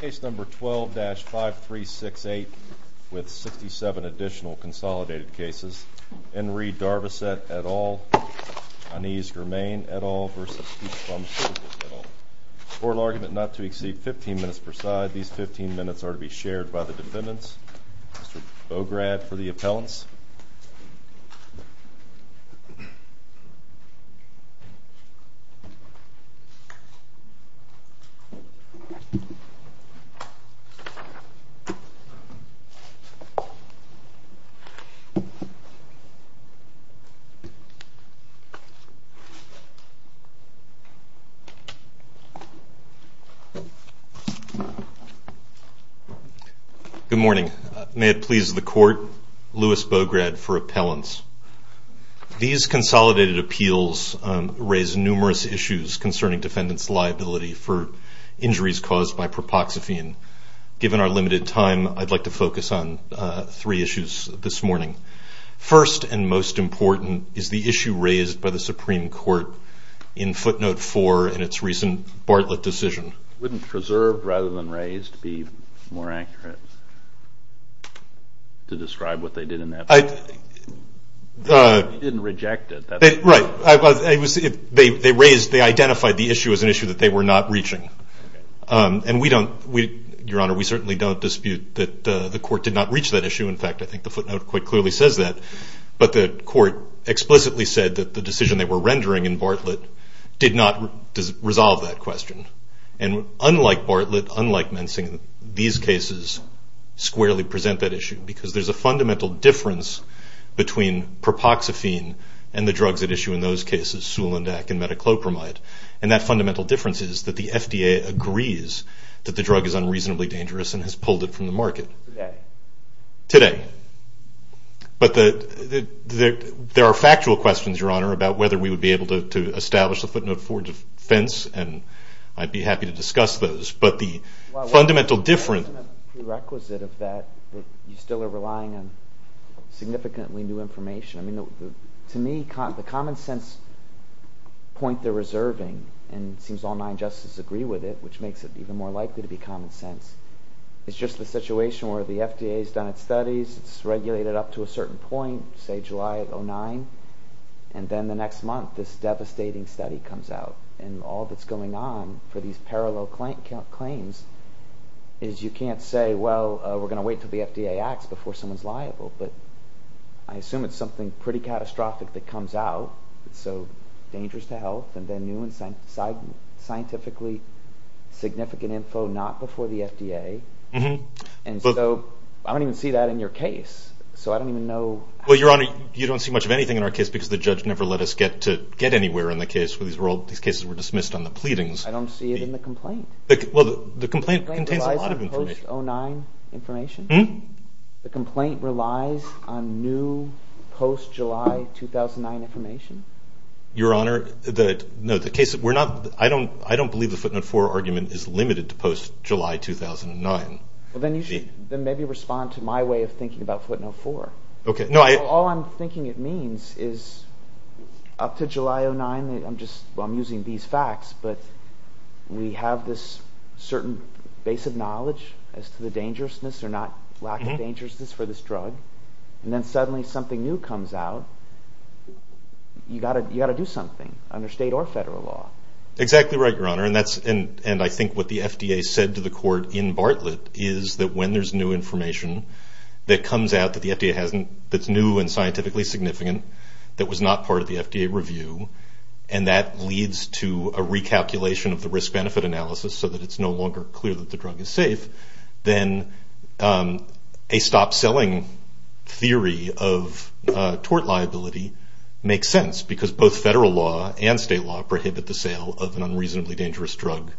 Case number 12-5368 with 67 additional consolidated cases. Enri Darvocet et al. Anise Germain et al. v. Keith Brumfield et al. Court of argument not to exceed 15 minutes per side. These 15 minutes are to be shared by the defendants. Mr. Bograd for the appellants. Good morning. May it please the court, Louis Bograd for appellants. These consolidated appeals raise numerous issues concerning defendants' liability for injuries caused by propoxyphine. Given our limited time, I'd like to focus on three issues this morning. First and most important is the issue raised by the Supreme Court in footnote 4 in its recent Bartlett decision. Wouldn't preserved rather than raised be more accurate to describe what they did in that case? They didn't reject it. Right. They raised, they identified the issue as an issue that they were not reaching. And we don't, Your Honor, we certainly don't dispute that the court did not reach that issue. In fact, I think the footnote quite clearly says that. But the court explicitly said that the decision they were rendering in Bartlett did not resolve that question. And unlike Bartlett, unlike Mensing, these cases squarely present that issue. Because there's a fundamental difference between propoxyphine and the drugs at issue in those cases, sulindac and metoclopramide. And that fundamental difference is that the FDA agrees that the drug is unreasonably dangerous and has pulled it from the market. Today? Today. But there are factual questions, Your Honor, about whether we would be able to establish the footnote 4 defense. And I'd be happy to discuss those. But the fundamental difference. The prerequisite of that, you still are relying on significantly new information. To me, the common sense point they're reserving, and it seems all nine justices agree with it, which makes it even more likely to be common sense, is just the situation where the FDA has done its studies, it's regulated up to a certain point, say July of 2009, and then the next month this devastating study comes out. And all that's going on for these parallel claims is you can't say, well, we're going to wait until the FDA acts before someone's liable. But I assume it's something pretty catastrophic that comes out. It's so dangerous to health, and then new and scientifically significant info not before the FDA. And so I don't even see that in your case. So I don't even know. Well, Your Honor, you don't see much of anything in our case because the judge never let us get anywhere in the case. These cases were dismissed on the pleadings. I don't see it in the complaint. Well, the complaint contains a lot of information. The complaint relies on post-09 information? Your Honor, I don't believe the footnote 4 argument is limited to post-July 2009. Well, then you should maybe respond to my way of thinking about footnote 4. All I'm thinking it means is up to July of 2009, I'm using these facts, but we have this certain base of knowledge as to the dangerousness or lack of dangerousness for this drug, and then suddenly something new comes out. You've got to do something under state or federal law. Exactly right, Your Honor, and I think what the FDA said to the court in Bartlett is that when there's new information that comes out that the FDA hasn't, that's new and scientifically significant, that was not part of the FDA review, and that leads to a recalculation of the risk-benefit analysis so that it's no longer clear that the drug is safe, then a stop-selling theory of tort liability makes sense, because both federal law and state law prohibit the sale of an unreasonably dangerous drug.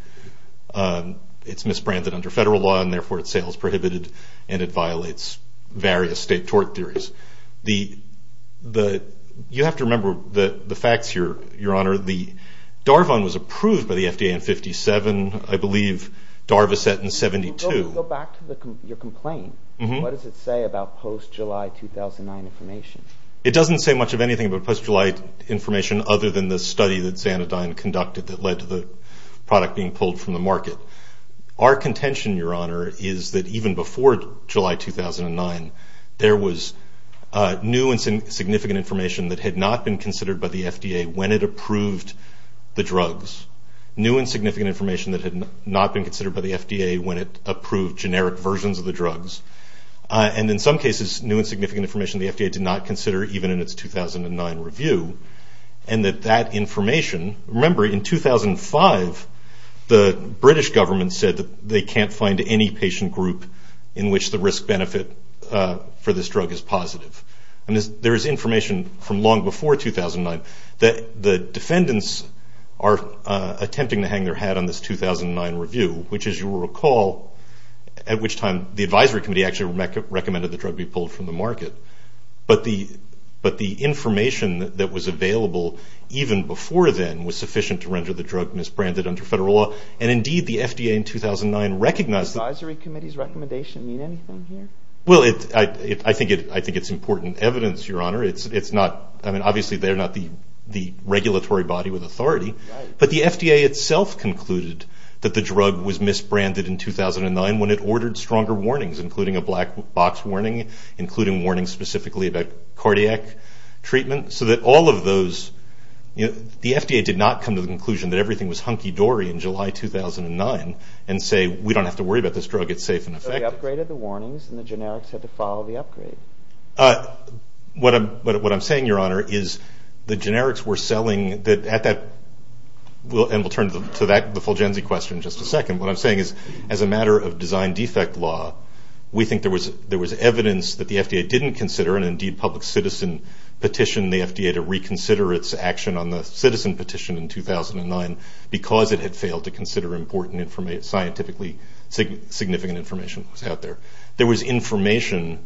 It's misbranded under federal law, and therefore its sale is prohibited, and it violates various state tort theories. You have to remember the facts here, Your Honor. The Darvon was approved by the FDA in 57, I believe Darvoset in 72. Go back to your complaint. What does it say about post-July 2009 information? It doesn't say much of anything about post-July information other than the study that Xanadine conducted that led to the product being pulled from the market. Our contention, Your Honor, is that even before July 2009, there was new and significant information that had not been considered by the FDA when it approved the drugs, new and significant information that had not been considered by the FDA when it approved generic versions of the drugs, and in some cases new and significant information the FDA did not consider even in its 2009 review, and that that information, remember in 2005, the British government said that they can't find any patient group in which the risk-benefit for this drug is positive. There is information from long before 2009 that the defendants are attempting to hang their hat on this 2009 review, which, as you will recall, at which time the advisory committee actually recommended the drug be pulled from the market, but the information that was available even before then was sufficient to render the drug misbranded under federal law, and indeed the FDA in 2009 recognized that... Does the advisory committee's recommendation mean anything here? Well, I think it's important evidence, Your Honor. It's not, I mean, obviously they're not the regulatory body with authority, but the FDA itself concluded that the drug was misbranded in 2009 when it ordered stronger warnings, including a black box warning, including warnings specifically about cardiac treatment, so that all of those, you know, the FDA did not come to the conclusion that everything was hunky-dory in July 2009 and say we don't have to worry about this drug, it's safe and effective. So they upgraded the warnings and the generics had to follow the upgrade? What I'm saying, Your Honor, is the generics were selling, and we'll turn to the Fulgenzy question in just a second, what I'm saying is as a matter of design defect law, we think there was evidence that the FDA didn't consider, and indeed public citizen petitioned the FDA to reconsider its action on the citizen petition in 2009 because it had failed to consider important scientifically significant information out there. There was information.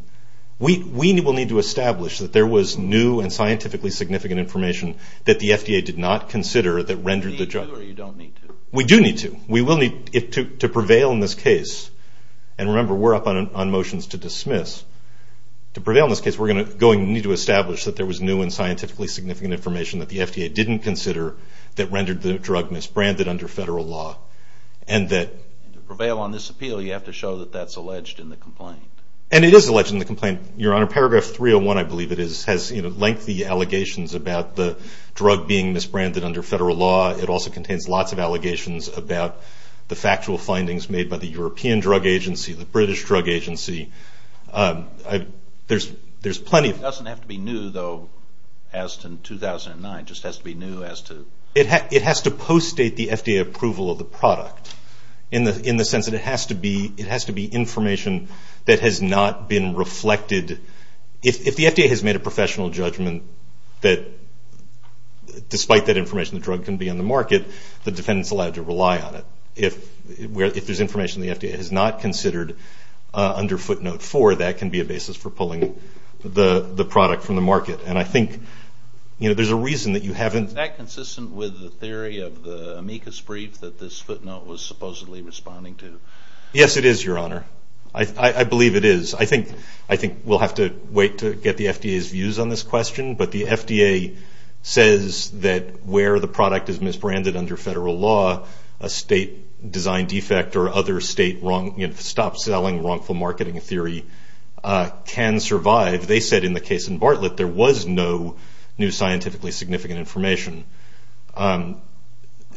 We will need to establish that there was new and scientifically significant information that the FDA did not consider that rendered the drug. Do you need to or you don't need to? We do need to. We will need to prevail in this case, and remember we're up on motions to dismiss. To prevail in this case we're going to need to establish that there was new and scientifically significant information that the FDA didn't consider that rendered the drug misbranded under federal law. And to prevail on this appeal you have to show that that's alleged in the complaint. And it is alleged in the complaint, Your Honor. Paragraph 301, I believe it is, has lengthy allegations about the drug being misbranded under federal law. It also contains lots of allegations about the factual findings made by the European Drug Agency, the British Drug Agency. There's plenty of them. It doesn't have to be new, though, as to 2009. It just has to be new as to... It has to post-date the FDA approval of the product, in the sense that it has to be information that has not been reflected. If the FDA has made a professional judgment that, despite that information, the drug can be on the market, the defendant is allowed to rely on it. If there's information the FDA has not considered under footnote four, that can be a basis for pulling the product from the market. And I think there's a reason that you haven't... Is that consistent with the theory of the amicus brief that this footnote was supposedly responding to? Yes, it is, Your Honor. I believe it is. I think we'll have to wait to get the FDA's views on this question. But the FDA says that where the product is misbranded under federal law, a state design defect or other state stop-selling wrongful marketing theory can survive. They said in the case in Bartlett there was no new scientifically significant information. And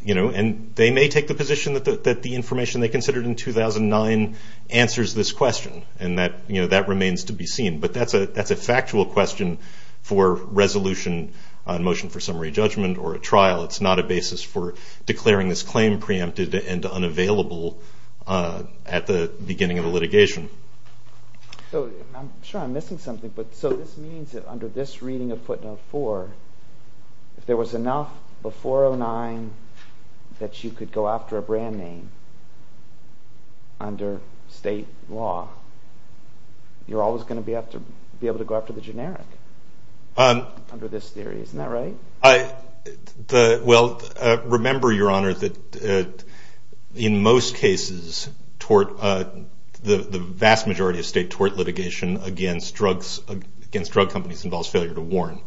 they may take the position that the information they considered in 2009 answers this question, and that remains to be seen. But that's a factual question for resolution, a motion for summary judgment, or a trial. It's not a basis for declaring this claim preempted and unavailable at the beginning of the litigation. I'm sure I'm missing something. So this means that under this reading of footnote four, if there was enough before 2009 that you could go after a brand name under state law, you're always going to be able to go after the generic under this theory. Isn't that right? Well, remember, Your Honor, that in most cases the vast majority of state tort litigation against drug companies involves failure to warn.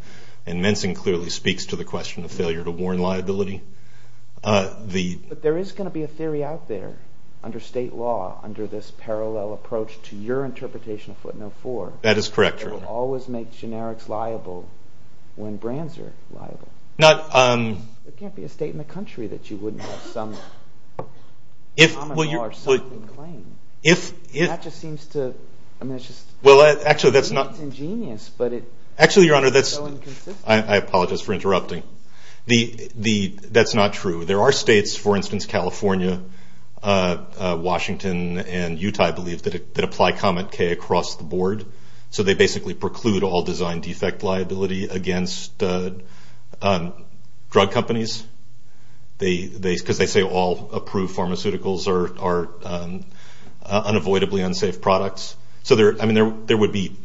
And Mensing clearly speaks to the question of failure to warn liability. But there is going to be a theory out there under state law under this parallel approach to your interpretation of footnote four. That is correct, Your Honor. But you can't always make generics liable when brands are liable. There can't be a state in the country that you wouldn't have some common law or something claimed. That just seems to be ingenious, but it's so inconsistent. I apologize for interrupting. That's not true. There are states, for instance California, Washington, and Utah, I believe, that apply comment K across the board. So they basically preclude all design defect liability against drug companies because they say all approved pharmaceuticals are unavoidably unsafe products. So there would be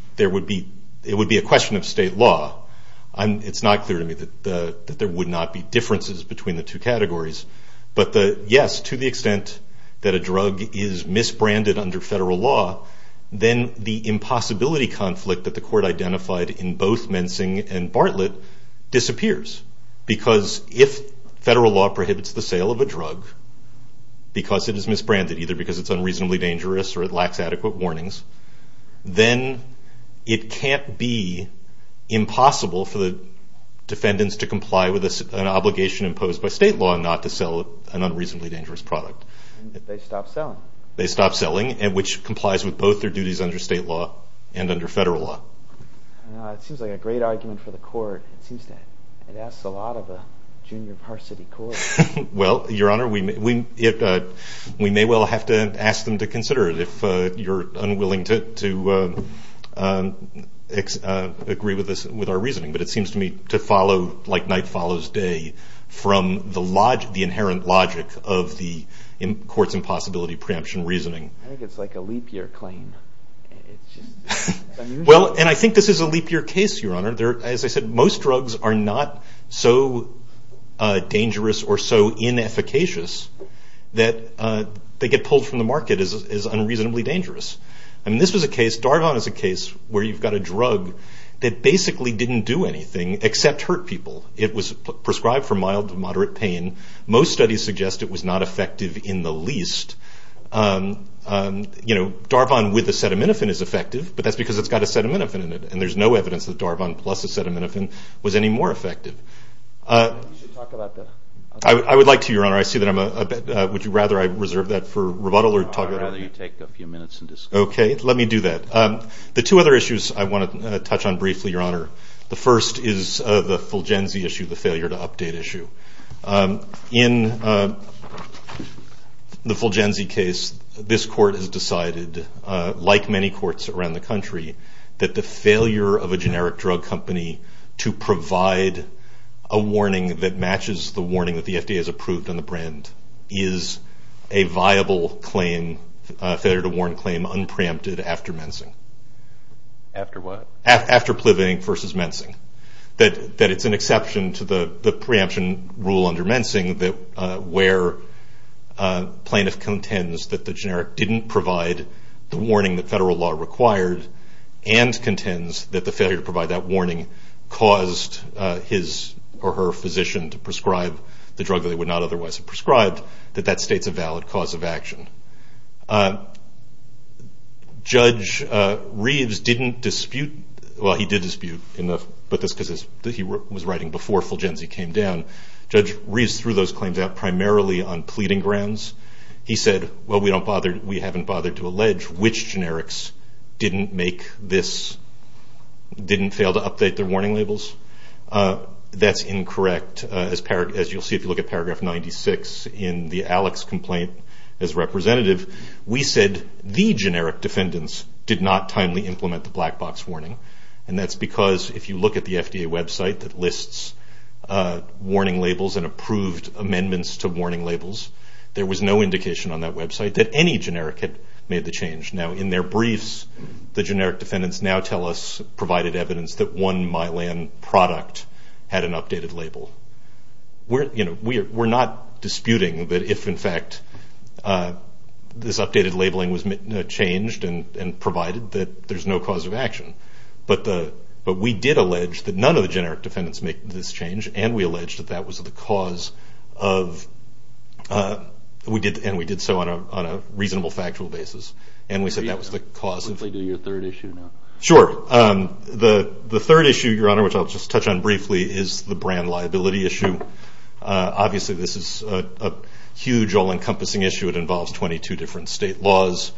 a question of state law. It's not clear to me that there would not be differences between the two categories. But, yes, to the extent that a drug is misbranded under federal law, then the impossibility conflict that the court identified in both Mensing and Bartlett disappears. Because if federal law prohibits the sale of a drug because it is misbranded, either because it's unreasonably dangerous or it lacks adequate warnings, then it can't be impossible for the defendants to comply with an obligation imposed by state law not to sell an unreasonably dangerous product. They stop selling. They stop selling, which complies with both their duties under state law and under federal law. It seems like a great argument for the court. It seems that it asks a lot of a junior varsity court. Well, Your Honor, we may well have to ask them to consider it if you're unwilling to agree with our reasoning. But it seems to me to follow like night follows day from the inherent logic of the court's impossibility preemption reasoning. I think it's like a leap year claim. Well, and I think this is a leap year case, Your Honor. As I said, most drugs are not so dangerous or so inefficacious that they get pulled from the market as unreasonably dangerous. I mean, this was a case, Darvon is a case, where you've got a drug that basically didn't do anything except hurt people. It was prescribed for mild to moderate pain. Most studies suggest it was not effective in the least. You know, Darvon with acetaminophen is effective, but that's because it's got acetaminophen in it, and there's no evidence that Darvon plus acetaminophen was any more effective. You should talk about that. I would like to, Your Honor. I see that I'm a bit, would you rather I reserve that for rebuttal or talk about it? I'd rather you take a few minutes and discuss it. Okay, let me do that. The two other issues I want to touch on briefly, Your Honor. The first is the Fulgenzy issue, the failure to update issue. In the Fulgenzy case, this court has decided, like many courts around the country, that the failure of a generic drug company to provide a warning that matches the warning that the FDA has approved on the brand is a viable claim, failure to warn claim, unpreempted after mensing. After what? After mensing versus mensing. That it's an exception to the preemption rule under mensing where plaintiff contends that the generic didn't provide the warning that federal law required and contends that the failure to provide that warning caused his or her physician to prescribe the drug that they would not otherwise have prescribed, that that states a valid cause of action. Judge Reeves didn't dispute, well, he did dispute, but that's because he was writing before Fulgenzy came down. Judge Reeves threw those claims out primarily on pleading grounds. He said, well, we haven't bothered to allege which generics didn't make this, didn't fail to update their warning labels. That's incorrect, as you'll see if you look at paragraph 96 in the Alex complaint as representative, we said the generic defendants did not timely implement the black box warning, and that's because if you look at the FDA website that lists warning labels and approved amendments to warning labels, there was no indication on that website that any generic had made the change. Now, in their briefs, the generic defendants now tell us, provided evidence that one Mylan product had an updated label. We're not disputing that if, in fact, this updated labeling was changed and provided that there's no cause of action, but we did allege that none of the generic defendants make this change, and we allege that that was the cause of, and we did so on a reasonable factual basis, and we said that was the cause of. Briefly do your third issue now. Sure. The third issue, Your Honor, which I'll just touch on briefly, is the brand liability issue. Obviously, this is a huge, all-encompassing issue. It involves 22 different state laws,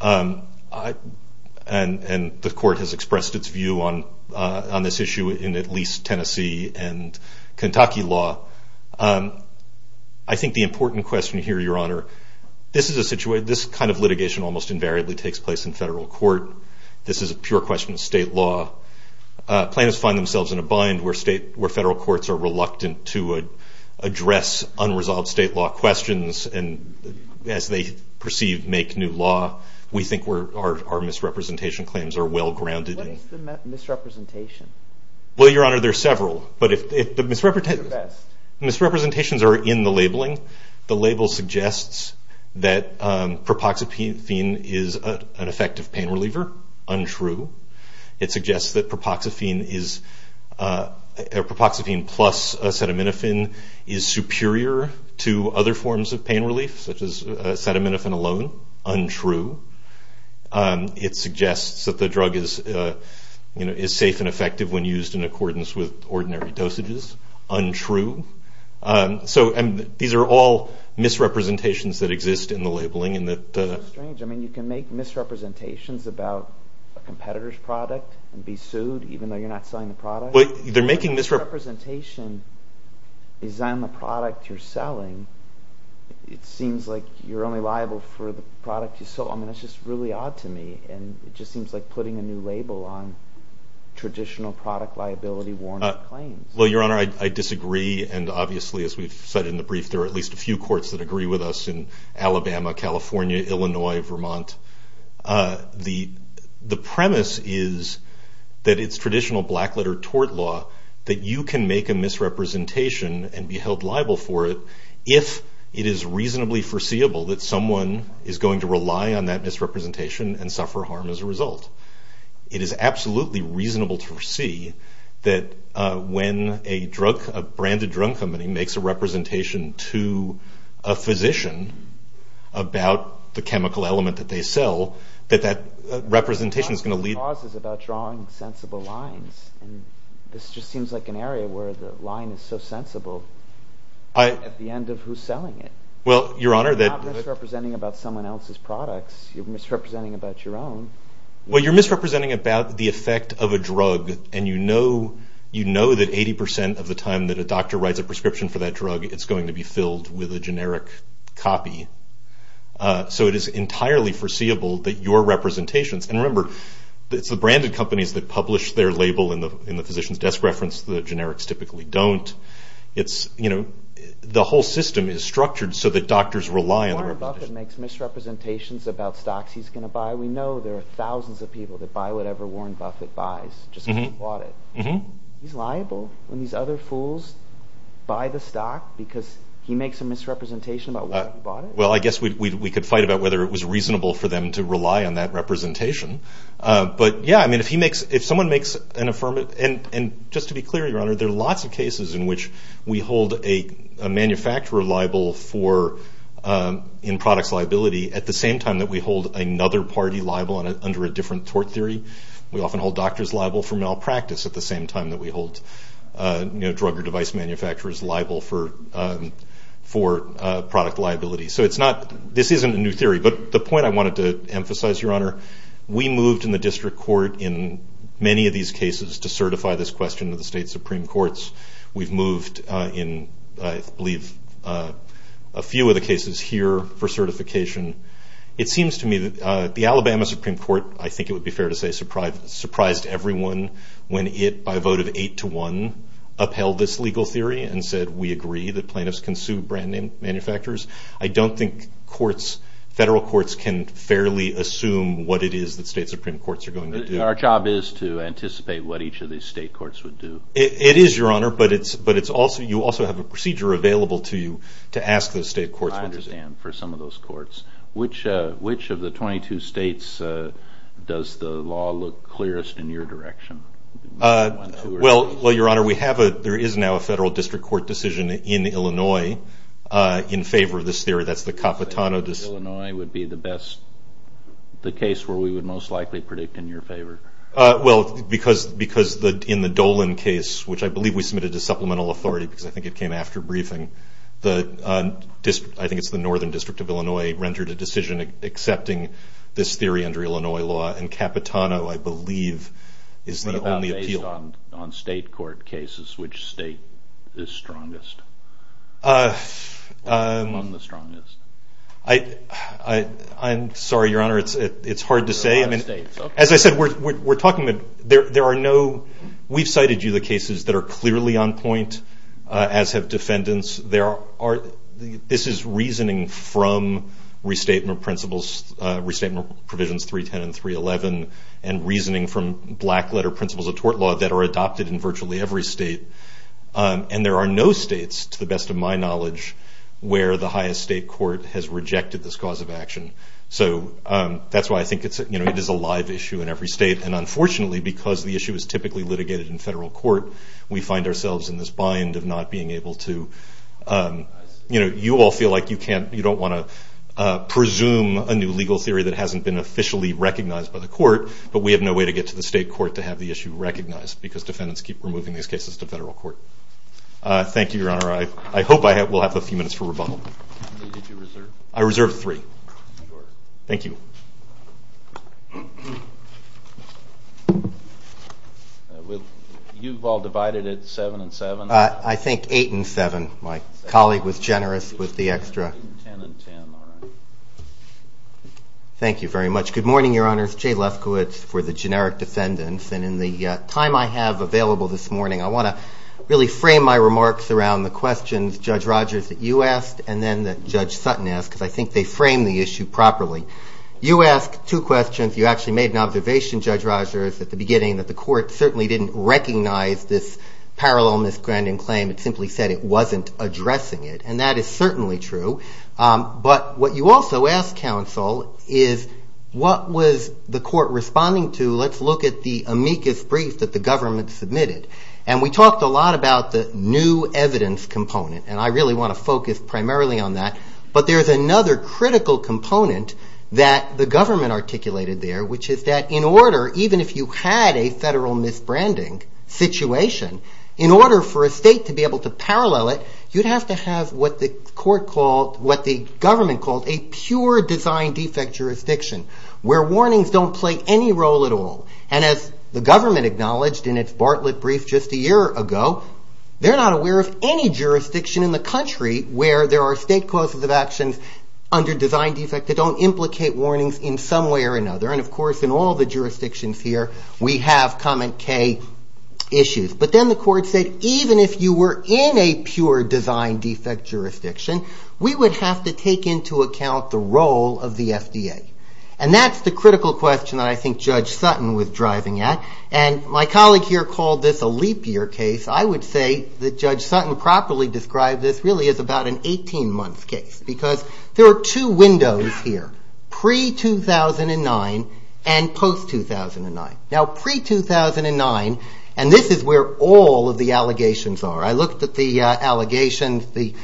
and the court has expressed its view on this issue in at least Tennessee and Kentucky law. I think the important question here, Your Honor, this kind of litigation almost invariably takes place in federal court. This is a pure question of state law. Plaintiffs find themselves in a bind where federal courts are reluctant to address unresolved state law questions, and as they perceive make new law, we think our misrepresentation claims are well-grounded. What is the misrepresentation? Well, Your Honor, there are several, but if the misrepresentations are in the labeling, the label suggests that propoxyphene is an effective pain reliever. Untrue. It suggests that propoxyphene plus acetaminophen is superior to other forms of pain relief, such as acetaminophen alone. Untrue. It suggests that the drug is safe and effective when used in accordance with ordinary dosages. Untrue. These are all misrepresentations that exist in the labeling. That's strange. I mean, you can make misrepresentations about a competitor's product and be sued even though you're not selling the product. But if the misrepresentation is on the product you're selling, it seems like you're only liable for the product you sold. I mean, that's just really odd to me, and it just seems like putting a new label on traditional product liability warranted claims. Well, Your Honor, I disagree, and obviously, as we've said in the brief, there are at least a few courts that agree with us in Alabama, California, Illinois, Vermont. The premise is that it's traditional blackletter tort law, that you can make a misrepresentation and be held liable for it if it is reasonably foreseeable that someone is going to rely on that misrepresentation and suffer harm as a result. It is absolutely reasonable to foresee that when a drug, a branded drug company makes a representation to a physician about the chemical element that they sell, that that representation is going to lead to… …is about drawing sensible lines, and this just seems like an area where the line is so sensible at the end of who's selling it. Well, Your Honor, that… You're not misrepresenting about someone else's products. You're misrepresenting about your own. Well, you're misrepresenting about the effect of a drug, and you know that 80% of the time that a doctor writes a prescription for that drug, it's going to be filled with a generic copy. So it is entirely foreseeable that your representations… And remember, it's the branded companies that publish their label in the physician's desk reference. The generics typically don't. It's, you know, the whole system is structured so that doctors rely on… That's why we know there are thousands of people that buy whatever Warren Buffett buys just because he bought it. He's liable when these other fools buy the stock because he makes a misrepresentation about why he bought it. Well, I guess we could fight about whether it was reasonable for them to rely on that representation. But, yeah, I mean, if he makes… If someone makes an affirmative… And just to be clear, Your Honor, there are lots of cases in which we hold a manufacturer liable for… for product liability at the same time that we hold another party liable under a different tort theory. We often hold doctors liable for malpractice at the same time that we hold, you know, drug or device manufacturers liable for product liability. So it's not… This isn't a new theory, but the point I wanted to emphasize, Your Honor, we moved in the district court in many of these cases to certify this question to the state supreme courts. We've moved in, I believe, a few of the cases here for certification. It seems to me that the Alabama Supreme Court, I think it would be fair to say, surprised everyone when it, by a vote of 8 to 1, upheld this legal theory and said we agree that plaintiffs can sue brand manufacturers. I don't think courts, federal courts, can fairly assume what it is that state supreme courts are going to do. Our job is to anticipate what each of these state courts would do. It is, Your Honor, but you also have a procedure available to you to ask those state courts what to do. I understand, for some of those courts. Which of the 22 states does the law look clearest in your direction? Well, Your Honor, there is now a federal district court decision in Illinois in favor of this theory. That's the Capitano decision. Illinois would be the best, the case where we would most likely predict in your favor. Well, because in the Dolan case, which I believe we submitted to supplemental authority, because I think it came after briefing, I think it's the Northern District of Illinois, rendered a decision accepting this theory under Illinois law, and Capitano, I believe, is the only appeal. Based on state court cases, which state is strongest? I'm sorry, Your Honor, it's hard to say. As I said, we've cited you the cases that are clearly on point, as have defendants. This is reasoning from restatement provisions 310 and 311, and reasoning from black letter principles of tort law that are adopted in virtually every state. And there are no states, to the best of my knowledge, where the highest state court has rejected this cause of action. So that's why I think it is a live issue in every state, and unfortunately, because the issue is typically litigated in federal court, we find ourselves in this bind of not being able to, you know, you all feel like you can't, you don't want to presume a new legal theory that hasn't been officially recognized by the court, but we have no way to get to the state court to have the issue recognized, because defendants keep removing these cases to federal court. Thank you, Your Honor. I hope I will have a few minutes for rebuttal. How many did you reserve? I reserved three. Thank you. You've all divided it seven and seven? I think eight and seven. My colleague was generous with the extra. Ten and ten, all right. Thank you very much. Good morning, Your Honors. Jay Lefkowitz for the generic defendants. And in the time I have available this morning, I want to really frame my remarks around the questions, Judge Rogers, that you asked, and then that Judge Sutton asked, because I think they framed the issue properly. You asked two questions. You actually made an observation, Judge Rogers, at the beginning, that the court certainly didn't recognize this parallel miscrandling claim. It simply said it wasn't addressing it, and that is certainly true. But what you also asked, counsel, is what was the court responding to? Let's look at the amicus brief that the government submitted. And we talked a lot about the new evidence component, and I really want to focus primarily on that. But there's another critical component that the government articulated there, which is that in order, even if you had a federal misbranding situation, in order for a state to be able to parallel it, you'd have to have what the government called a pure design defect jurisdiction, where warnings don't play any role at all. And as the government acknowledged in its Bartlett brief just a year ago, they're not aware of any jurisdiction in the country where there are state clauses of actions under design defect that don't implicate warnings in some way or another. And, of course, in all the jurisdictions here, we have comment K issues. But then the court said, even if you were in a pure design defect jurisdiction, we would have to take into account the role of the FDA. And that's the critical question that I think Judge Sutton was driving at. And my colleague here called this a leap year case. I would say that Judge Sutton properly described this really as about an 18-month case because there are two windows here, pre-2009 and post-2009. Now, pre-2009, and this is where all of the allegations are. I looked at the allegations, the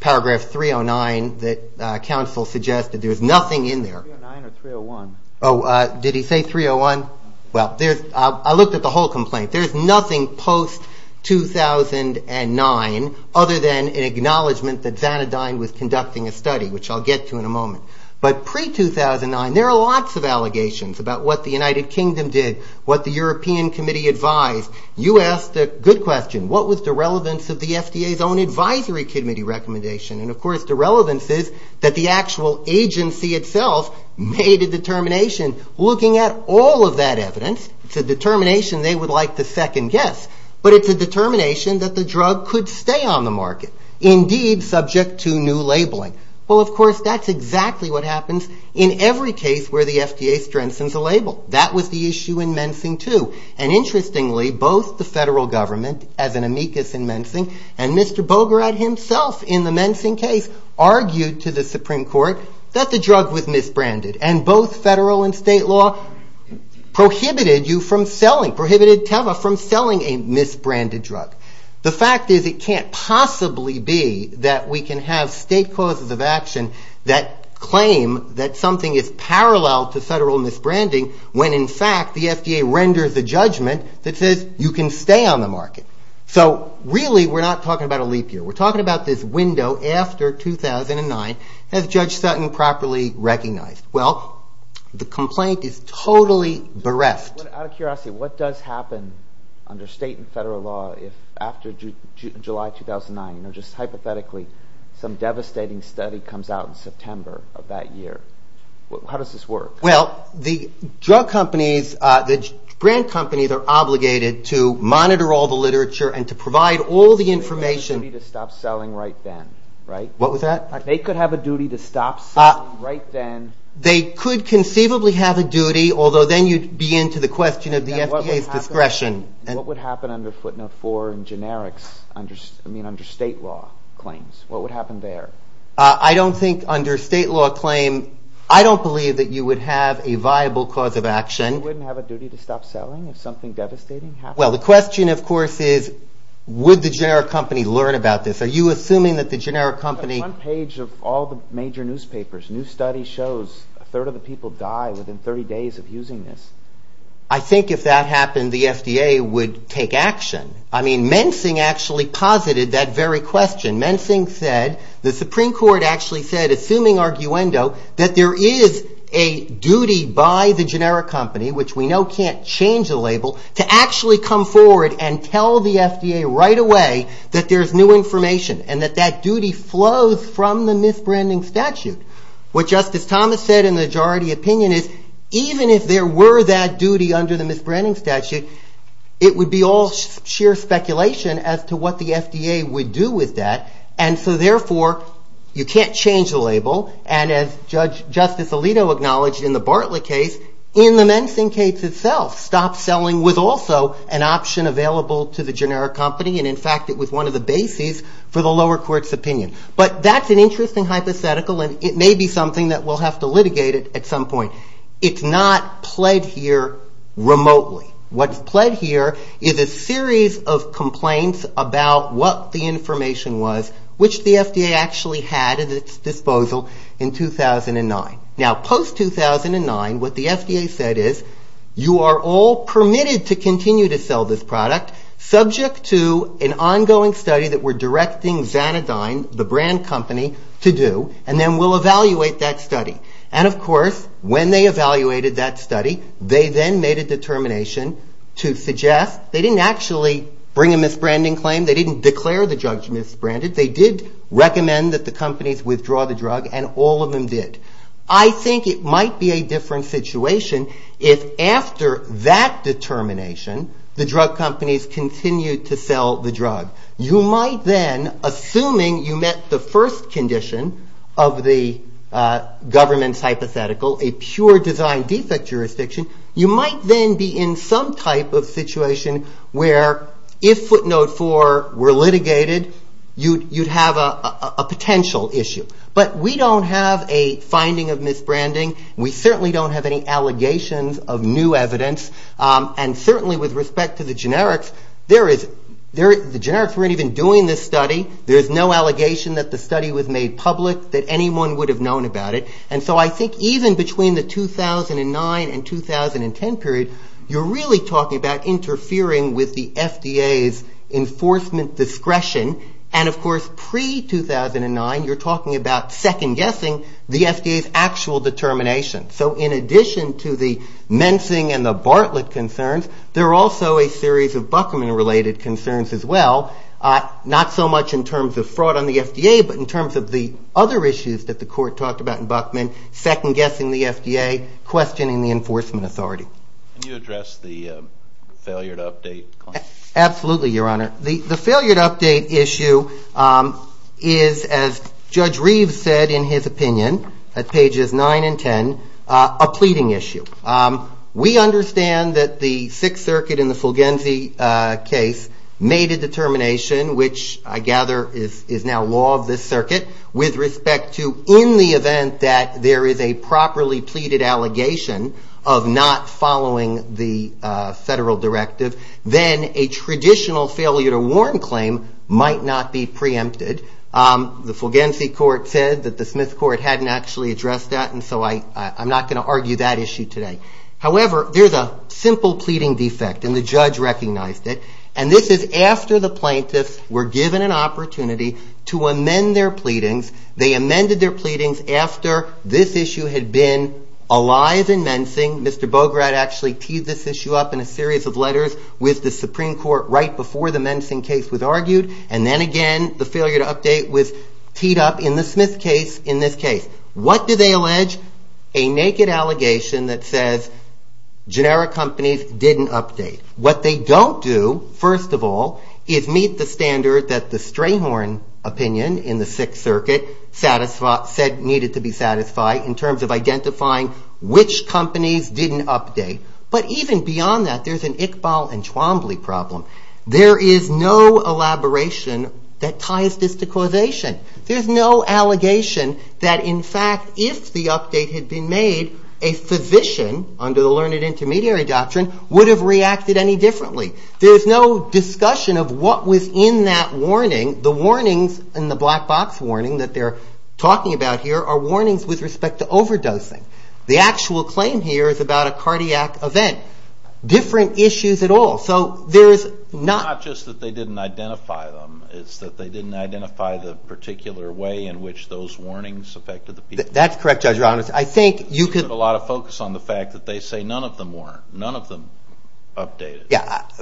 paragraph 309 that counsel suggested. There's nothing in there. 309 or 301? Oh, did he say 301? Well, I looked at the whole complaint. There's nothing post-2009 other than an acknowledgment that Xanadine was conducting a study, which I'll get to in a moment. But pre-2009, there are lots of allegations about what the United Kingdom did, what the European Committee advised. You asked a good question. What was the relevance of the FDA's own advisory committee recommendation? And, of course, the relevance is that the actual agency itself made a determination. Looking at all of that evidence, it's a determination they would like to second-guess. But it's a determination that the drug could stay on the market, indeed subject to new labeling. Well, of course, that's exactly what happens in every case where the FDA strengthens a label. That was the issue in Mensing II. And, interestingly, both the federal government, as an amicus in Mensing, and Mr. Bograd himself in the Mensing case argued to the Supreme Court that the drug was misbranded. And both federal and state law prohibited you from selling, prohibited Teva from selling a misbranded drug. The fact is it can't possibly be that we can have state causes of action that claim that something is parallel to federal misbranding when, in fact, the FDA renders a judgment that says you can stay on the market. So, really, we're not talking about a leap year. We're talking about this window after 2009. Has Judge Sutton properly recognized? Well, the complaint is totally bereft. Out of curiosity, what does happen under state and federal law after July 2009? Just hypothetically, some devastating study comes out in September of that year. How does this work? Well, the drug companies, the brand companies are obligated to monitor all the literature and to provide all the information. They have a duty to stop selling right then, right? What was that? They could have a duty to stop selling right then. They could conceivably have a duty, although then you'd be into the question of the FDA's discretion. What would happen under footnote four in generics, I mean under state law claims? What would happen there? I don't think under state law claim, I don't believe that you would have a viable cause of action. You wouldn't have a duty to stop selling if something devastating happened? Well, the question, of course, is would the generic company learn about this? Are you assuming that the generic company? One page of all the major newspapers, new study shows a third of the people die within 30 days of using this. I think if that happened, the FDA would take action. I mean, Mensing actually posited that very question. Mensing said, the Supreme Court actually said, assuming arguendo, that there is a duty by the generic company, which we know can't change the label, to actually come forward and tell the FDA right away that there's new information and that that duty flows from the misbranding statute. What Justice Thomas said in the majority opinion is even if there were that duty under the misbranding statute, it would be all sheer speculation as to what the FDA would do with that. And so therefore, you can't change the label. And as Justice Alito acknowledged in the Bartlett case, in the Mensing case itself, stop selling was also an option available to the generic company. And in fact, it was one of the bases for the lower court's opinion. But that's an interesting hypothetical, and it may be something that we'll have to litigate at some point. It's not pled here remotely. What's pled here is a series of complaints about what the information was, which the FDA actually had at its disposal in 2009. Now, post-2009, what the FDA said is, you are all permitted to continue to sell this product, subject to an ongoing study that we're directing Xanadine, the brand company, to do, and then we'll evaluate that study. And of course, when they evaluated that study, they then made a determination to suggest, they didn't actually bring a misbranding claim. They didn't declare the drug to be misbranded. They did recommend that the companies withdraw the drug, and all of them did. I think it might be a different situation if after that determination, the drug companies continued to sell the drug. You might then, assuming you met the first condition of the government's hypothetical, a pure design defect jurisdiction, you might then be in some type of situation where if footnote four were litigated, you'd have a potential issue. But we don't have a finding of misbranding. We certainly don't have any allegations of new evidence. And certainly with respect to the generics, the generics weren't even doing this study. There's no allegation that the study was made public, that anyone would have known about it. And so I think even between the 2009 and 2010 period, you're really talking about interfering with the FDA's enforcement discretion. And of course, pre-2009, you're talking about second-guessing the FDA's actual determination. So in addition to the mensing and the Bartlett concerns, there are also a series of Buckman-related concerns as well, not so much in terms of fraud on the FDA, but in terms of the other issues that the court talked about in Buckman, second-guessing the FDA, questioning the enforcement authority. Can you address the failure to update? Absolutely, Your Honor. The failure to update issue is, as Judge Reeves said in his opinion, at pages 9 and 10, a pleading issue. We understand that the Sixth Circuit in the Fulgenzi case made a determination, which I gather is now law of this circuit, with respect to in the event that there is a properly pleaded allegation of not following the federal directive, then a traditional failure to warn claim might not be preempted. The Fulgenzi court said that the Smith court hadn't actually addressed that, and so I'm not going to argue that issue today. However, there's a simple pleading defect, and the judge recognized it, and this is after the plaintiffs were given an opportunity to amend their pleadings. They amended their pleadings after this issue had been alive in mensing. Mr. Bograd actually teed this issue up in a series of letters with the Supreme Court right before the mensing case was argued, and then again the failure to update was teed up in the Smith case in this case. What do they allege? A naked allegation that says generic companies didn't update. What they don't do, first of all, is meet the standard that the Strayhorn opinion in the Sixth Circuit said needed to be satisfied in terms of identifying which companies didn't update. But even beyond that, there's an Iqbal and Twombly problem. There is no elaboration that ties this to causation. There's no allegation that, in fact, if the update had been made, a physician under the learned intermediary doctrine would have reacted any differently. There's no discussion of what was in that warning. The warnings in the black box warning that they're talking about here are warnings with respect to overdosing. The actual claim here is about a cardiac event. Different issues at all. It's not just that they didn't identify them. It's that they didn't identify the particular way in which those warnings affected the people. That's correct, Judge Ramos. You put a lot of focus on the fact that they say none of them weren't. None of them updated. That's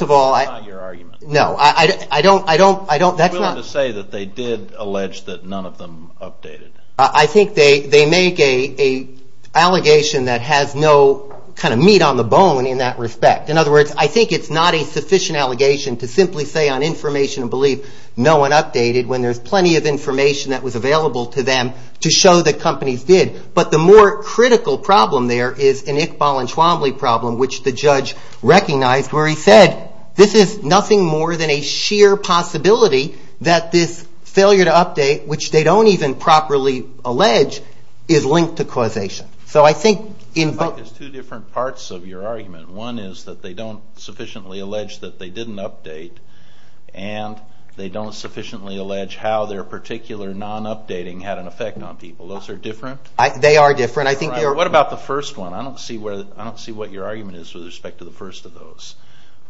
not your argument. No. I'm willing to say that they did allege that none of them updated. I think they make an allegation that has no kind of meat on the bone in that respect. In other words, I think it's not a sufficient allegation to simply say on information and belief no one updated when there's plenty of information that was available to them to show that companies did. But the more critical problem there is an Iqbal and Twombly problem, which the judge recognized where he said this is nothing more than a sheer possibility that this failure to update, which they don't even properly allege, is linked to causation. There's two different parts of your argument. One is that they don't sufficiently allege that they didn't update, and they don't sufficiently allege how their particular non-updating had an effect on people. Those are different? They are different. What about the first one? I don't see what your argument is with respect to the first of those.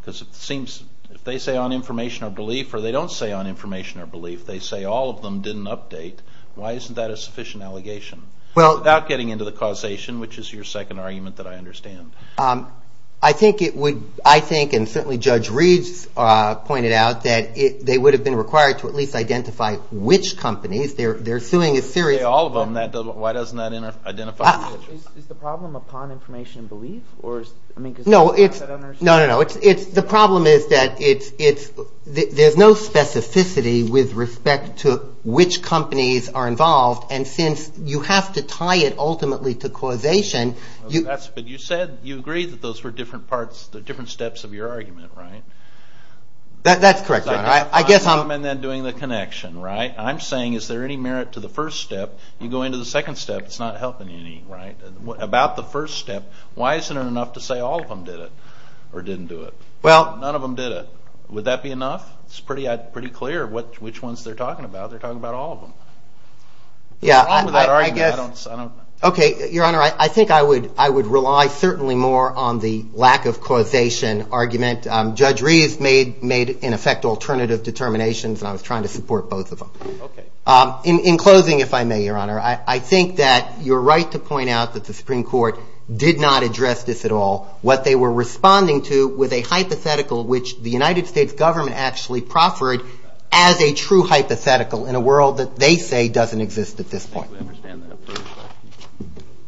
Because it seems if they say on information or belief, or they don't say on information or belief, they say all of them didn't update, why isn't that a sufficient allegation? Without getting into the causation, which is your second argument that I understand. I think it would, I think, and certainly Judge Reed's pointed out, that they would have been required to at least identify which companies. They're suing a series of companies. Why doesn't that identify? Is the problem upon information and belief? No, no, no. The problem is that there's no specificity with respect to which companies are involved, and since you have to tie it ultimately to causation. But you said, you agreed that those were different parts, different steps of your argument, right? That's correct, Your Honor. And then doing the connection, right? I'm saying is there any merit to the first step? You go into the second step, it's not helping any, right? About the first step, why isn't it enough to say all of them did it or didn't do it? None of them did it. Would that be enough? It's pretty clear which ones they're talking about. They're talking about all of them. What's wrong with that argument? Okay, Your Honor, I think I would rely certainly more on the lack of causation argument. Judge Reed made, in effect, alternative determinations, and I was trying to support both of them. In closing, if I may, Your Honor, I think that you're right to point out that the Supreme Court did not address this at all. What they were responding to was a hypothetical, which the United States government actually proffered as a true hypothetical in a world that they say doesn't exist at this point.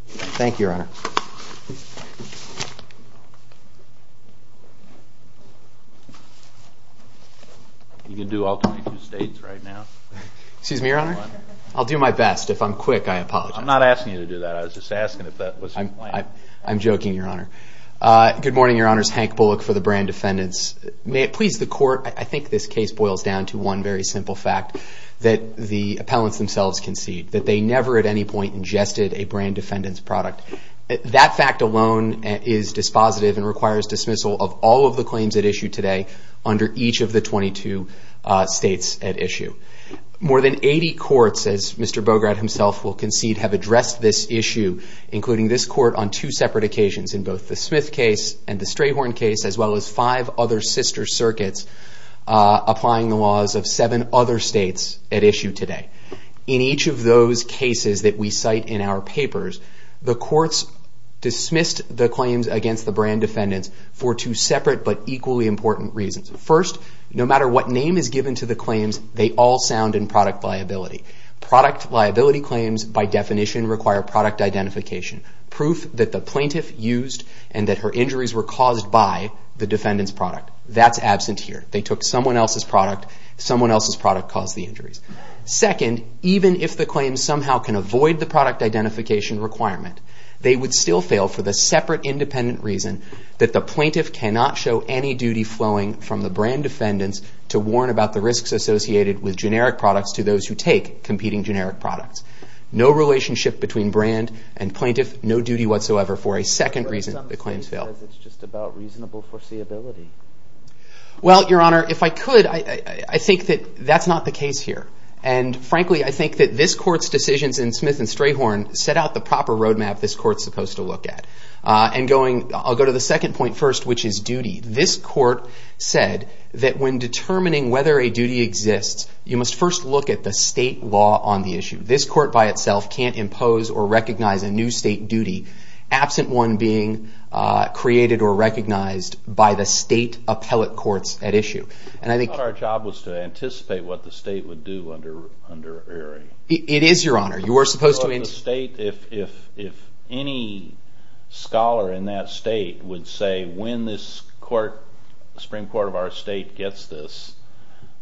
Thank you, Your Honor. You can do all 22 states right now. Excuse me, Your Honor? I'll do my best. If I'm quick, I apologize. I'm not asking you to do that. I was just asking if that was the plan. I'm joking, Your Honor. Good morning, Your Honors. Hank Bullock for the Brand Defendants. May it please the Court. I think this case boils down to one very simple fact, that the appellants themselves concede that they never at any point ingested a brand defendant's product. That fact alone is dispositive and requires dismissal of all of the claims at issue today under each of the 22 states at issue. More than 80 courts, as Mr. Bograd himself will concede, have addressed this issue, including this court on two separate occasions, in both the Smith case and the Strayhorn case, as well as five other sister circuits applying the laws of seven other states at issue today. In each of those cases that we cite in our papers, the courts dismissed the claims against the brand defendants for two separate but equally important reasons. First, no matter what name is given to the claims, they all sound in product liability. Product liability claims, by definition, require product identification, proof that the plaintiff used and that her injuries were caused by the defendant's product. That's absent here. They took someone else's product. Someone else's product caused the injuries. Second, even if the claims somehow can avoid the product identification requirement, they would still fail for the separate independent reason that the plaintiff cannot show any duty flowing from the brand defendants to warn about the risks associated with generic products to those who take competing generic products. No relationship between brand and plaintiff. No duty whatsoever for a second reason the claims fail. But some state says it's just about reasonable foreseeability. Well, Your Honor, if I could, I think that that's not the case here. And frankly, I think that this court's decisions in Smith and Strayhorn set out the proper roadmap this court's supposed to look at. I'll go to the second point first, which is duty. This court said that when determining whether a duty exists, you must first look at the state law on the issue. This court by itself can't impose or recognize a new state duty absent one being created or recognized by the state appellate courts at issue. I thought our job was to anticipate what the state would do under Erie. It is, Your Honor. If any scholar in that state would say, when this Supreme Court of our state gets this,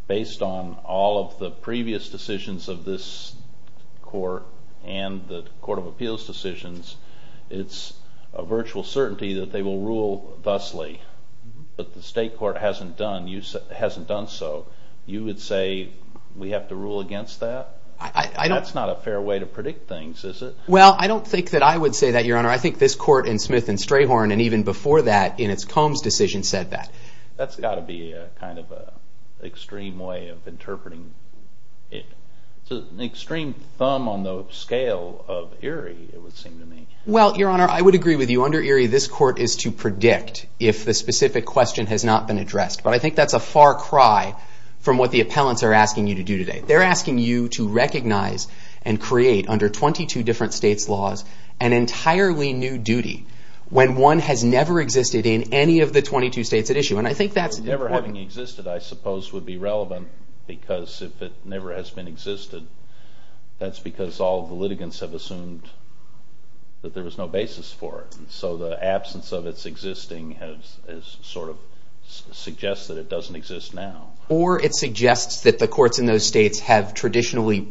based on all of the previous decisions of this court and the Court of Appeals decisions, it's a virtual certainty that they will rule thusly. But the state court hasn't done so. You would say we have to rule against that? That's not a fair way to predict things, is it? Well, I don't think that I would say that, Your Honor. I think this court in Smith and Strayhorn and even before that, in its Combs decision, said that. That's got to be a kind of extreme way of interpreting it. It's an extreme thumb on the scale of Erie, it would seem to me. Well, Your Honor, I would agree with you. Under Erie, this court is to predict if the specific question has not been addressed. But I think that's a far cry from what the appellants are asking you to do today. They're asking you to recognize and create, under 22 different states' laws, an entirely new duty when one has never existed in any of the 22 states at issue. And I think that's important. Well, never having existed, I suppose, would be relevant because if it never has been existed, that's because all the litigants have assumed that there was no basis for it. So the absence of its existing sort of suggests that it doesn't exist now. Or it suggests that the courts in those states have traditionally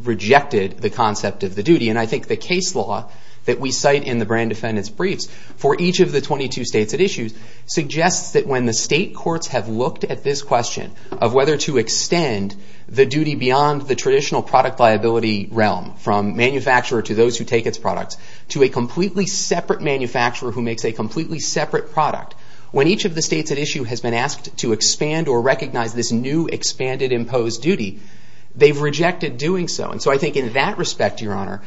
rejected the concept of the duty. And I think the case law that we cite in the brand defendant's briefs for each of the 22 states at issue suggests that when the state courts have looked at this question of whether to extend the duty beyond the traditional product liability realm, from manufacturer to those who take its products, to a completely separate manufacturer who makes a completely separate product, when each of the states at issue has been asked to expand or recognize this new expanded imposed duty, they've rejected doing so. And so I think in that respect, Your Honor,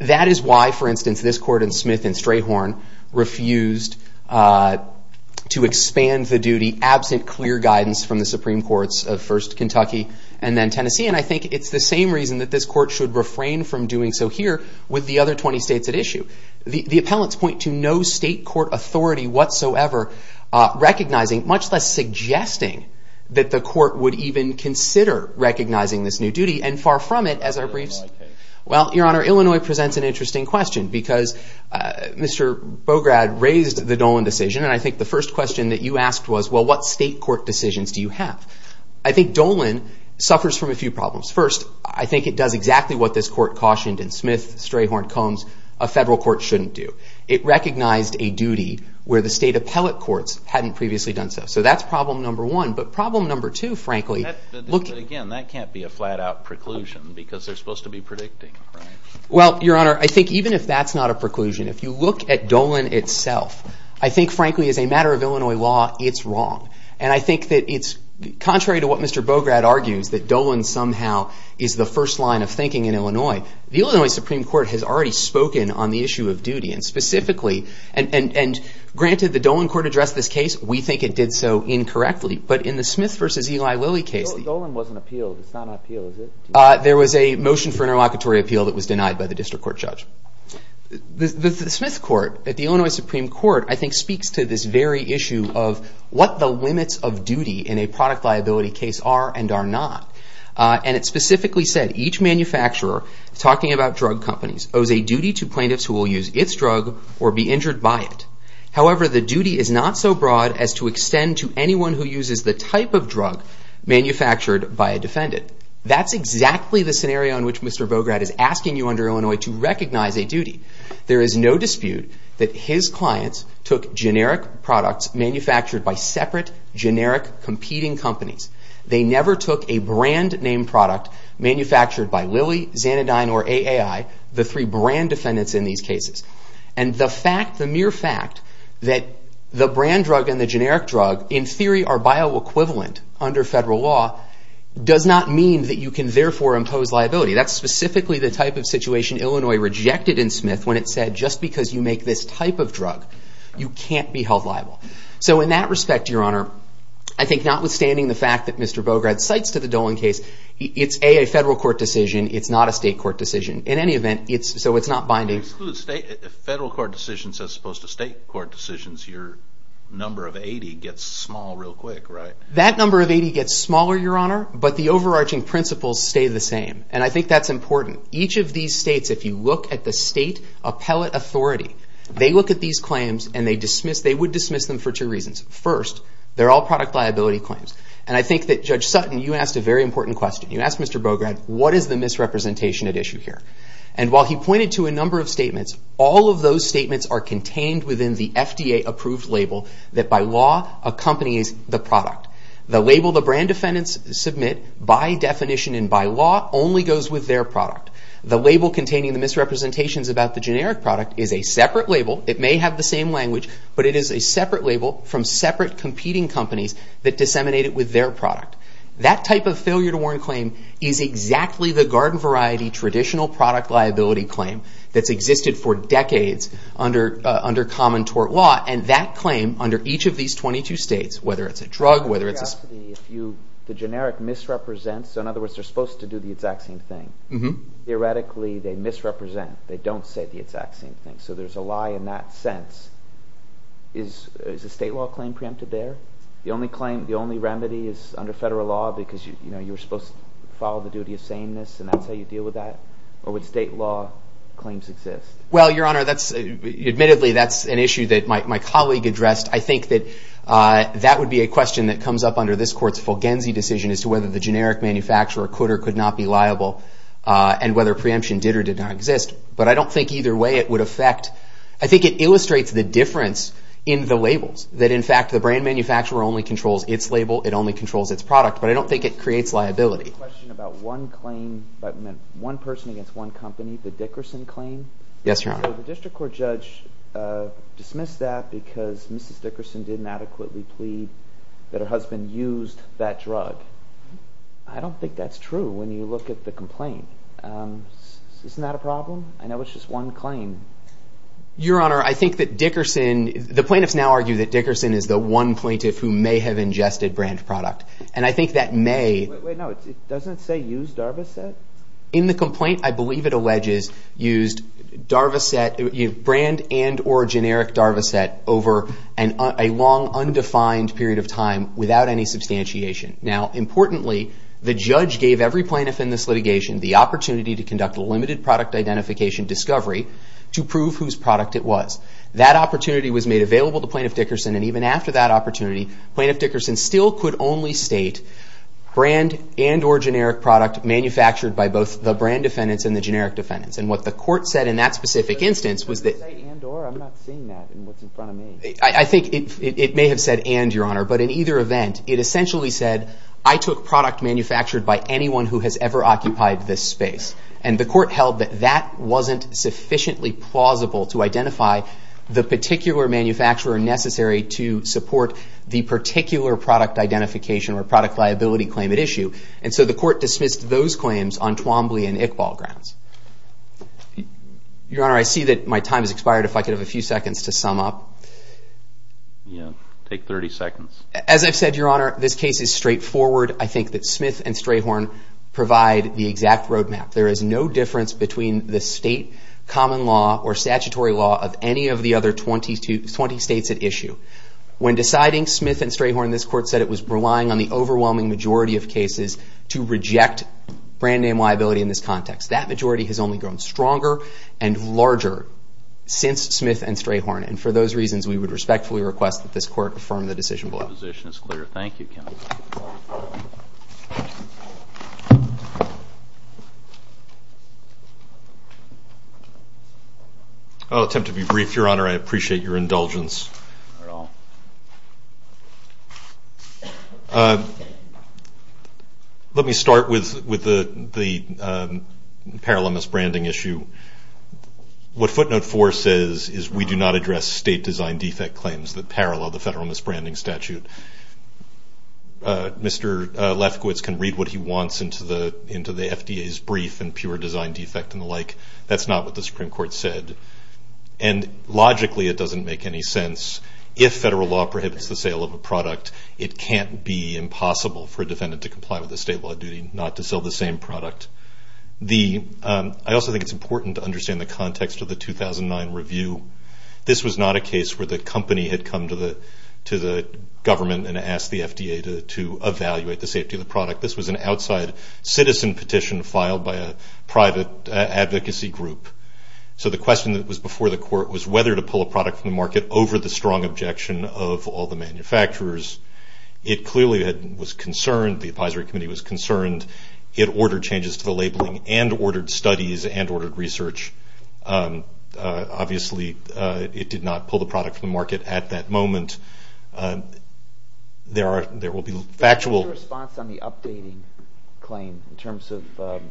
that is why, for instance, this court in Smith and Strayhorn refused to expand the duty absent clear guidance from the Supreme Courts of first Kentucky and then Tennessee. And I think it's the same reason that this court should refrain from doing so here with the other 20 states at issue. The appellants point to no state court authority whatsoever recognizing, much less suggesting that the court would even consider recognizing this new duty. And far from it, as our briefs... Illinois case. Well, Your Honor, Illinois presents an interesting question because Mr. Bograd raised the Dolan decision, and I think the first question that you asked was, well, what state court decisions do you have? I think Dolan suffers from a few problems. First, I think it does exactly what this court cautioned in Smith, Strayhorn, Combs, a federal court shouldn't do. It recognized a duty where the state appellate courts hadn't previously done so. So that's problem number one. But problem number two, frankly... But again, that can't be a flat-out preclusion because they're supposed to be predicting, right? Well, Your Honor, I think even if that's not a preclusion, if you look at Dolan itself, I think, frankly, as a matter of Illinois law, it's wrong. And I think that it's contrary to what Mr. Bograd argues, that Dolan somehow is the first line of thinking in Illinois. The Illinois Supreme Court has already spoken on the issue of duty, and specifically, and granted the Dolan court addressed this case, we think it did so incorrectly. But in the Smith v. Eli Lilly case... Dolan wasn't appealed. It's not an appeal, is it? There was a motion for an interlocutory appeal that was denied by the district court judge. The Smith court at the Illinois Supreme Court, I think, speaks to this very issue of what the limits of duty in a product liability case are and are not. And it specifically said, each manufacturer, talking about drug companies, owes a duty to plaintiffs who will use its drug or be injured by it. However, the duty is not so broad as to extend to anyone who uses the type of drug manufactured by a defendant. That's exactly the scenario in which Mr. Bograd is asking you under Illinois to recognize a duty. There is no dispute that his clients took generic products manufactured by separate generic competing companies. They never took a brand name product manufactured by Lilly, Xanadine, or AAI, the three brand defendants in these cases. And the fact, the mere fact, that the brand drug and the generic drug, in theory are bioequivalent under federal law, does not mean that you can therefore impose liability. That's specifically the type of situation Illinois rejected in Smith when it said, just because you make this type of drug, you can't be held liable. So in that respect, Your Honor, I think notwithstanding the fact that Mr. Bograd cites to the Dolan case, it's a federal court decision. It's not a state court decision. In any event, so it's not binding. If federal court decisions as opposed to state court decisions, your number of 80 gets small real quick, right? That number of 80 gets smaller, Your Honor, but the overarching principles stay the same. And I think that's important. Each of these states, if you look at the state appellate authority, they look at these claims and they dismiss, they would dismiss them for two reasons. First, they're all product liability claims. And I think that Judge Sutton, you asked a very important question. You asked Mr. Bograd, what is the misrepresentation at issue here? And while he pointed to a number of statements, all of those statements are contained within the FDA-approved label that by law accompanies the product. The label the brand defendants submit by definition and by law only goes with their product. The label containing the misrepresentations about the generic product is a separate label. It may have the same language, but it is a separate label from separate competing companies that disseminate it with their product. That type of failure to warrant claim is exactly the garden variety traditional product liability claim that's existed for decades under common tort law. And that claim under each of these 22 states, whether it's a drug, whether it's a... The generic misrepresents, so in other words, they're supposed to do the exact same thing. Theoretically, they misrepresent. They don't say the exact same thing. So there's a lie in that sense. Is a state law claim preempted there? The only claim, the only remedy is under federal law because you're supposed to follow the duty of sameness and that's how you deal with that? Or would state law claims exist? Well, Your Honor, that's... Admittedly, that's an issue that my colleague addressed. I think that that would be a question that comes up under this Court's Fulgenzi decision as to whether the generic manufacturer could or could not be liable and whether preemption did or did not exist. But I don't think either way it would affect... I think it illustrates the difference in the labels that in fact the brand manufacturer only controls its label, it only controls its product, but I don't think it creates liability. A question about one claim that meant one person against one company, the Dickerson claim. Yes, Your Honor. The District Court judge dismissed that because Mrs. Dickerson didn't adequately plead that her husband used that drug. I don't think that's true when you look at the complaint. Isn't that a problem? I know it's just one claim. Your Honor, I think that Dickerson... The plaintiffs now argue that Dickerson is the one plaintiff who may have ingested brand product. And I think that may... Wait, wait, no, doesn't it say used Darbyshire? In the complaint, I believe it alleges used Darbyshire, brand and or generic Darbyshire over a long undefined period of time without any substantiation. Now, importantly, the judge gave every plaintiff in this litigation the opportunity to conduct a limited product identification discovery to prove whose product it was. That opportunity was made available to Plaintiff Dickerson and even after that opportunity, Plaintiff Dickerson still could only state brand and or generic product manufactured by both the brand defendants and the generic defendants. And what the court said in that specific instance was that... Did it say and or? I'm not seeing that in what's in front of me. I think it may have said and, Your Honor, but in either event, it essentially said, I took product manufactured by anyone who has ever occupied this space. And the court held that that wasn't sufficiently plausible to identify the particular manufacturer necessary to support the particular product identification or product liability claim at issue. And so the court dismissed those claims on Twombly and Iqbal grounds. Your Honor, I see that my time has expired. If I could have a few seconds to sum up. Yeah, take 30 seconds. As I've said, Your Honor, this case is straightforward. I think that Smith and Strayhorn provide the exact roadmap. There is no difference between the state common law or statutory law of any of the other 20 states at issue. When deciding Smith and Strayhorn, this court said it was relying on the overwhelming majority of cases to reject brand name liability in this context. That majority has only grown stronger and larger since Smith and Strayhorn. And for those reasons, we would respectfully request that this court affirm the decision below. The position is clear. Thank you, Ken. I'll attempt to be brief, Your Honor. I appreciate your indulgence. Let me start with the parallel misbranding issue. What footnote 4 says is we do not address state design defect claims that parallel the federal misbranding statute. Mr. Lefkowitz can read what he wants into the FDA's brief and pure design defect and the like. That's not what the Supreme Court said. And logically, it doesn't make any sense. If federal law prohibits the sale of a product, it can't be impossible for a defendant to comply with the state law duty not to sell the same product. I also think it's important to understand the context of the 2009 review. This was not a case where the company had come to the government and asked the FDA to evaluate the safety of the product. This was an outside citizen petition filed by a private advocacy group. So the question that was before the court was whether to pull a product from the market over the strong objection of all the manufacturers. It clearly was concerned. The advisory committee was concerned. It ordered changes to the labeling and ordered studies and ordered research. Obviously, it did not pull the product from the market at that moment. There will be factual— What's your response on the updating claim in terms of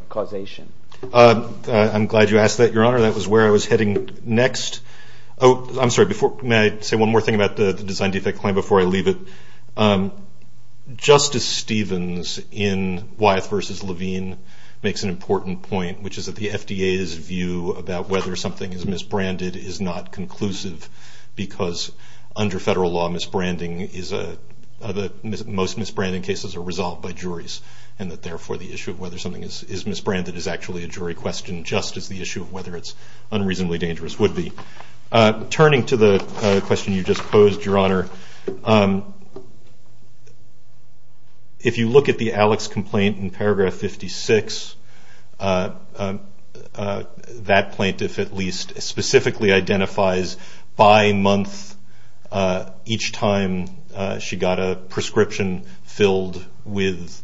causation? I'm glad you asked that, Your Honor. That was where I was heading next. I'm sorry. May I say one more thing about the design defect claim before I leave it? Justice Stevens in Wyeth v. Levine makes an important point, which is that the FDA's view about whether something is misbranded is not conclusive because under federal law, most misbranding cases are resolved by juries and that therefore the issue of whether something is misbranded is actually a jury question, just as the issue of whether it's unreasonably dangerous would be. Turning to the question you just posed, Your Honor, if you look at the Alex complaint in paragraph 56, that plaintiff at least specifically identifies by month each time she got a prescription filled with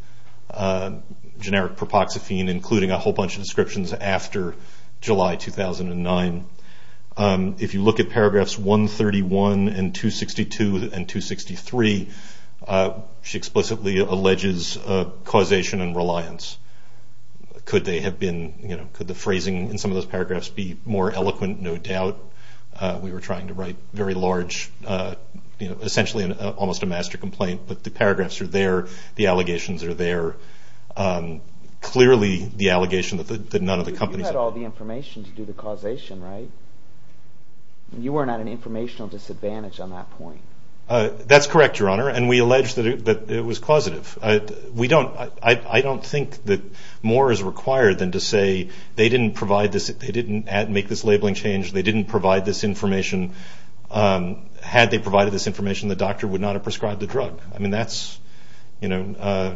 generic propoxyphene including a whole bunch of descriptions after July 2009. If you look at paragraphs 131 and 262 and 263, she explicitly alleges causation and reliance. Could the phrasing in some of those paragraphs be more eloquent? No doubt. We were trying to write very large, essentially almost a master complaint, but the paragraphs are there, the allegations are there. Clearly the allegation that none of the companies... You had all the information to do the causation, right? You were not at an informational disadvantage on that point. That's correct, Your Honor, and we allege that it was causative. I don't think that more is required than to say they didn't make this labeling change, they didn't provide this information. Had they provided this information, the doctor would not have prescribed the drug. I mean that's a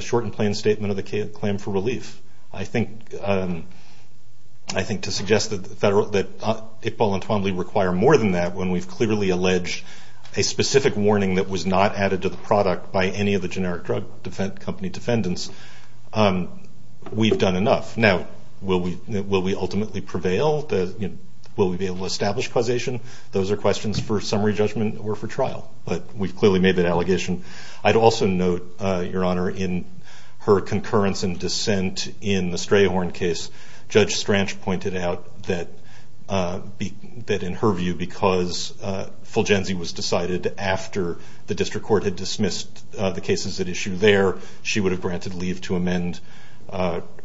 short and plain statement of the claim for relief. I think to suggest that Iqbal and Twombly require more than that when we've clearly alleged a specific warning that was not added to the product by any of the generic drug company defendants, we've done enough. Now, will we ultimately prevail? Will we be able to establish causation? Those are questions for summary judgment or for trial, but we've clearly made that allegation. I'd also note, Your Honor, in her concurrence and dissent in the Strayhorn case, Judge Stranch pointed out that in her view, because Fulgenzi was decided after the district court had dismissed the cases at issue there, she would have granted leave to amend.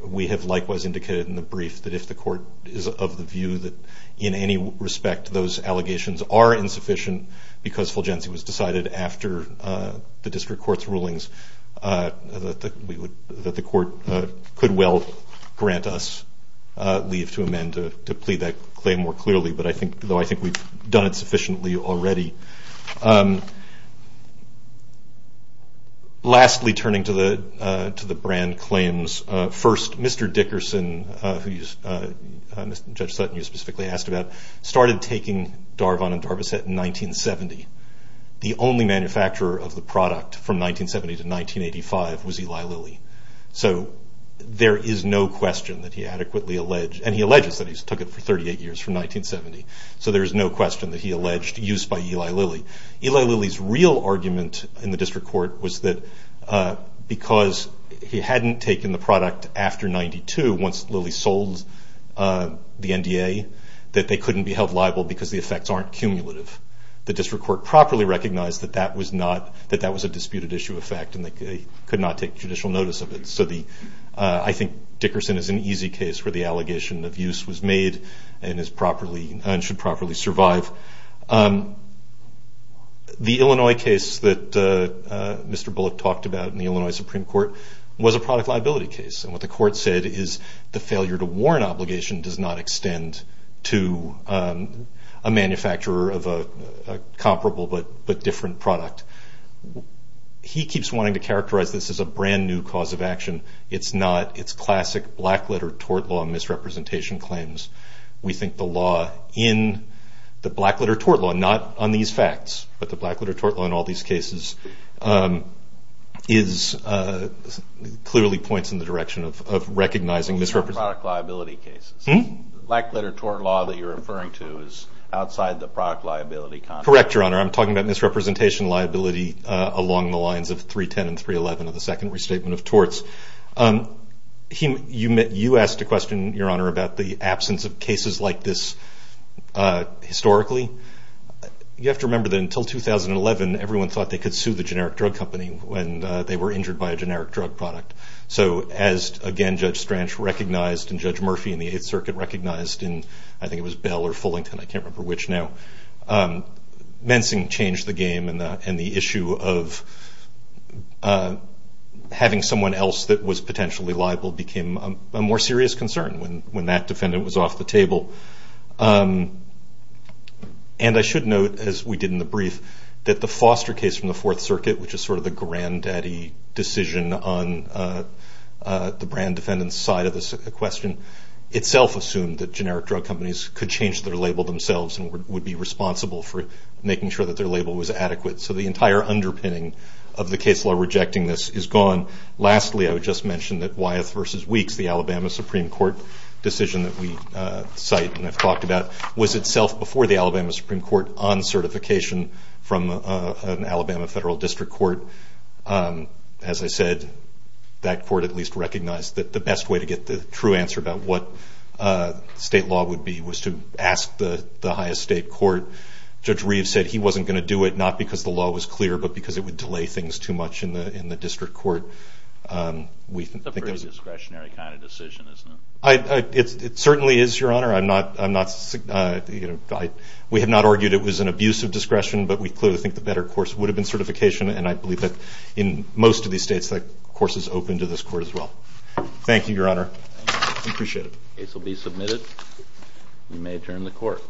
We have likewise indicated in the brief that if the court is of the view that in any respect those allegations are insufficient because Fulgenzi was decided after the district court's rulings, that the court could well grant us leave to amend to plead that claim more clearly, though I think we've done it sufficiently already. Lastly, turning to the brand claims. First, Mr. Dickerson, who Judge Sutton, you specifically asked about, started taking Darvon and Darboset in 1970. The only manufacturer of the product from 1970 to 1985 was Eli Lilly. So there is no question that he adequately alleged, and he alleges that he took it for 38 years from 1970, so there is no question that he alleged use by Eli Lilly. Eli Lilly's real argument in the district court was that because he hadn't taken the product after 1992, once Lilly sold the NDA, that they couldn't be held liable because the effects aren't cumulative. The district court properly recognized that that was a disputed issue effect and they could not take judicial notice of it. I think Dickerson is an easy case where the allegation of use was made and should properly survive. The Illinois case that Mr. Bullock talked about in the Illinois Supreme Court was a product liability case, and what the court said is the failure to warrant obligation does not extend to a manufacturer of a comparable but different product. He keeps wanting to characterize this as a brand new cause of action. It's not. It's classic black-letter tort law misrepresentation claims. We think the law in the black-letter tort law, not on these facts, but the black-letter tort law in all these cases clearly points in the direction of recognizing misrepresentation. Black-letter tort law that you're referring to is outside the product liability context. Correct, Your Honor. I'm talking about misrepresentation liability along the lines of 310 and 311 of the Second Restatement of Torts. You asked a question, Your Honor, about the absence of cases like this historically. You have to remember that until 2011, everyone thought they could sue the generic drug company when they were injured by a generic drug product. So as, again, Judge Stranch recognized and Judge Murphy in the Eighth Circuit recognized, and I think it was Bell or Fullington, I can't remember which now. Mensing changed the game, and the issue of having someone else that was potentially liable became a more serious concern when that defendant was off the table. And I should note, as we did in the brief, that the Foster case from the Fourth Circuit, which is sort of the granddaddy decision on the brand defendant's side of the question, itself assumed that generic drug companies could change their label themselves and would be responsible for making sure that their label was adequate. So the entire underpinning of the case law rejecting this is gone. Lastly, I would just mention that Wyeth v. Weeks, the Alabama Supreme Court decision that we cite and have talked about, was itself before the Alabama Supreme Court on certification from an Alabama federal district court. As I said, that court at least recognized that the best way to get the true answer about what state law would be was to ask the highest state court. Judge Reeves said he wasn't going to do it, not because the law was clear, but because it would delay things too much in the district court. It's a pretty discretionary kind of decision, isn't it? It certainly is, Your Honor. We have not argued it was an abuse of discretion, but we clearly think the better course would have been certification, and I believe that in most of these states that course is open to this court as well. Thank you, Your Honor. We appreciate it. The case will be submitted. You may adjourn the court.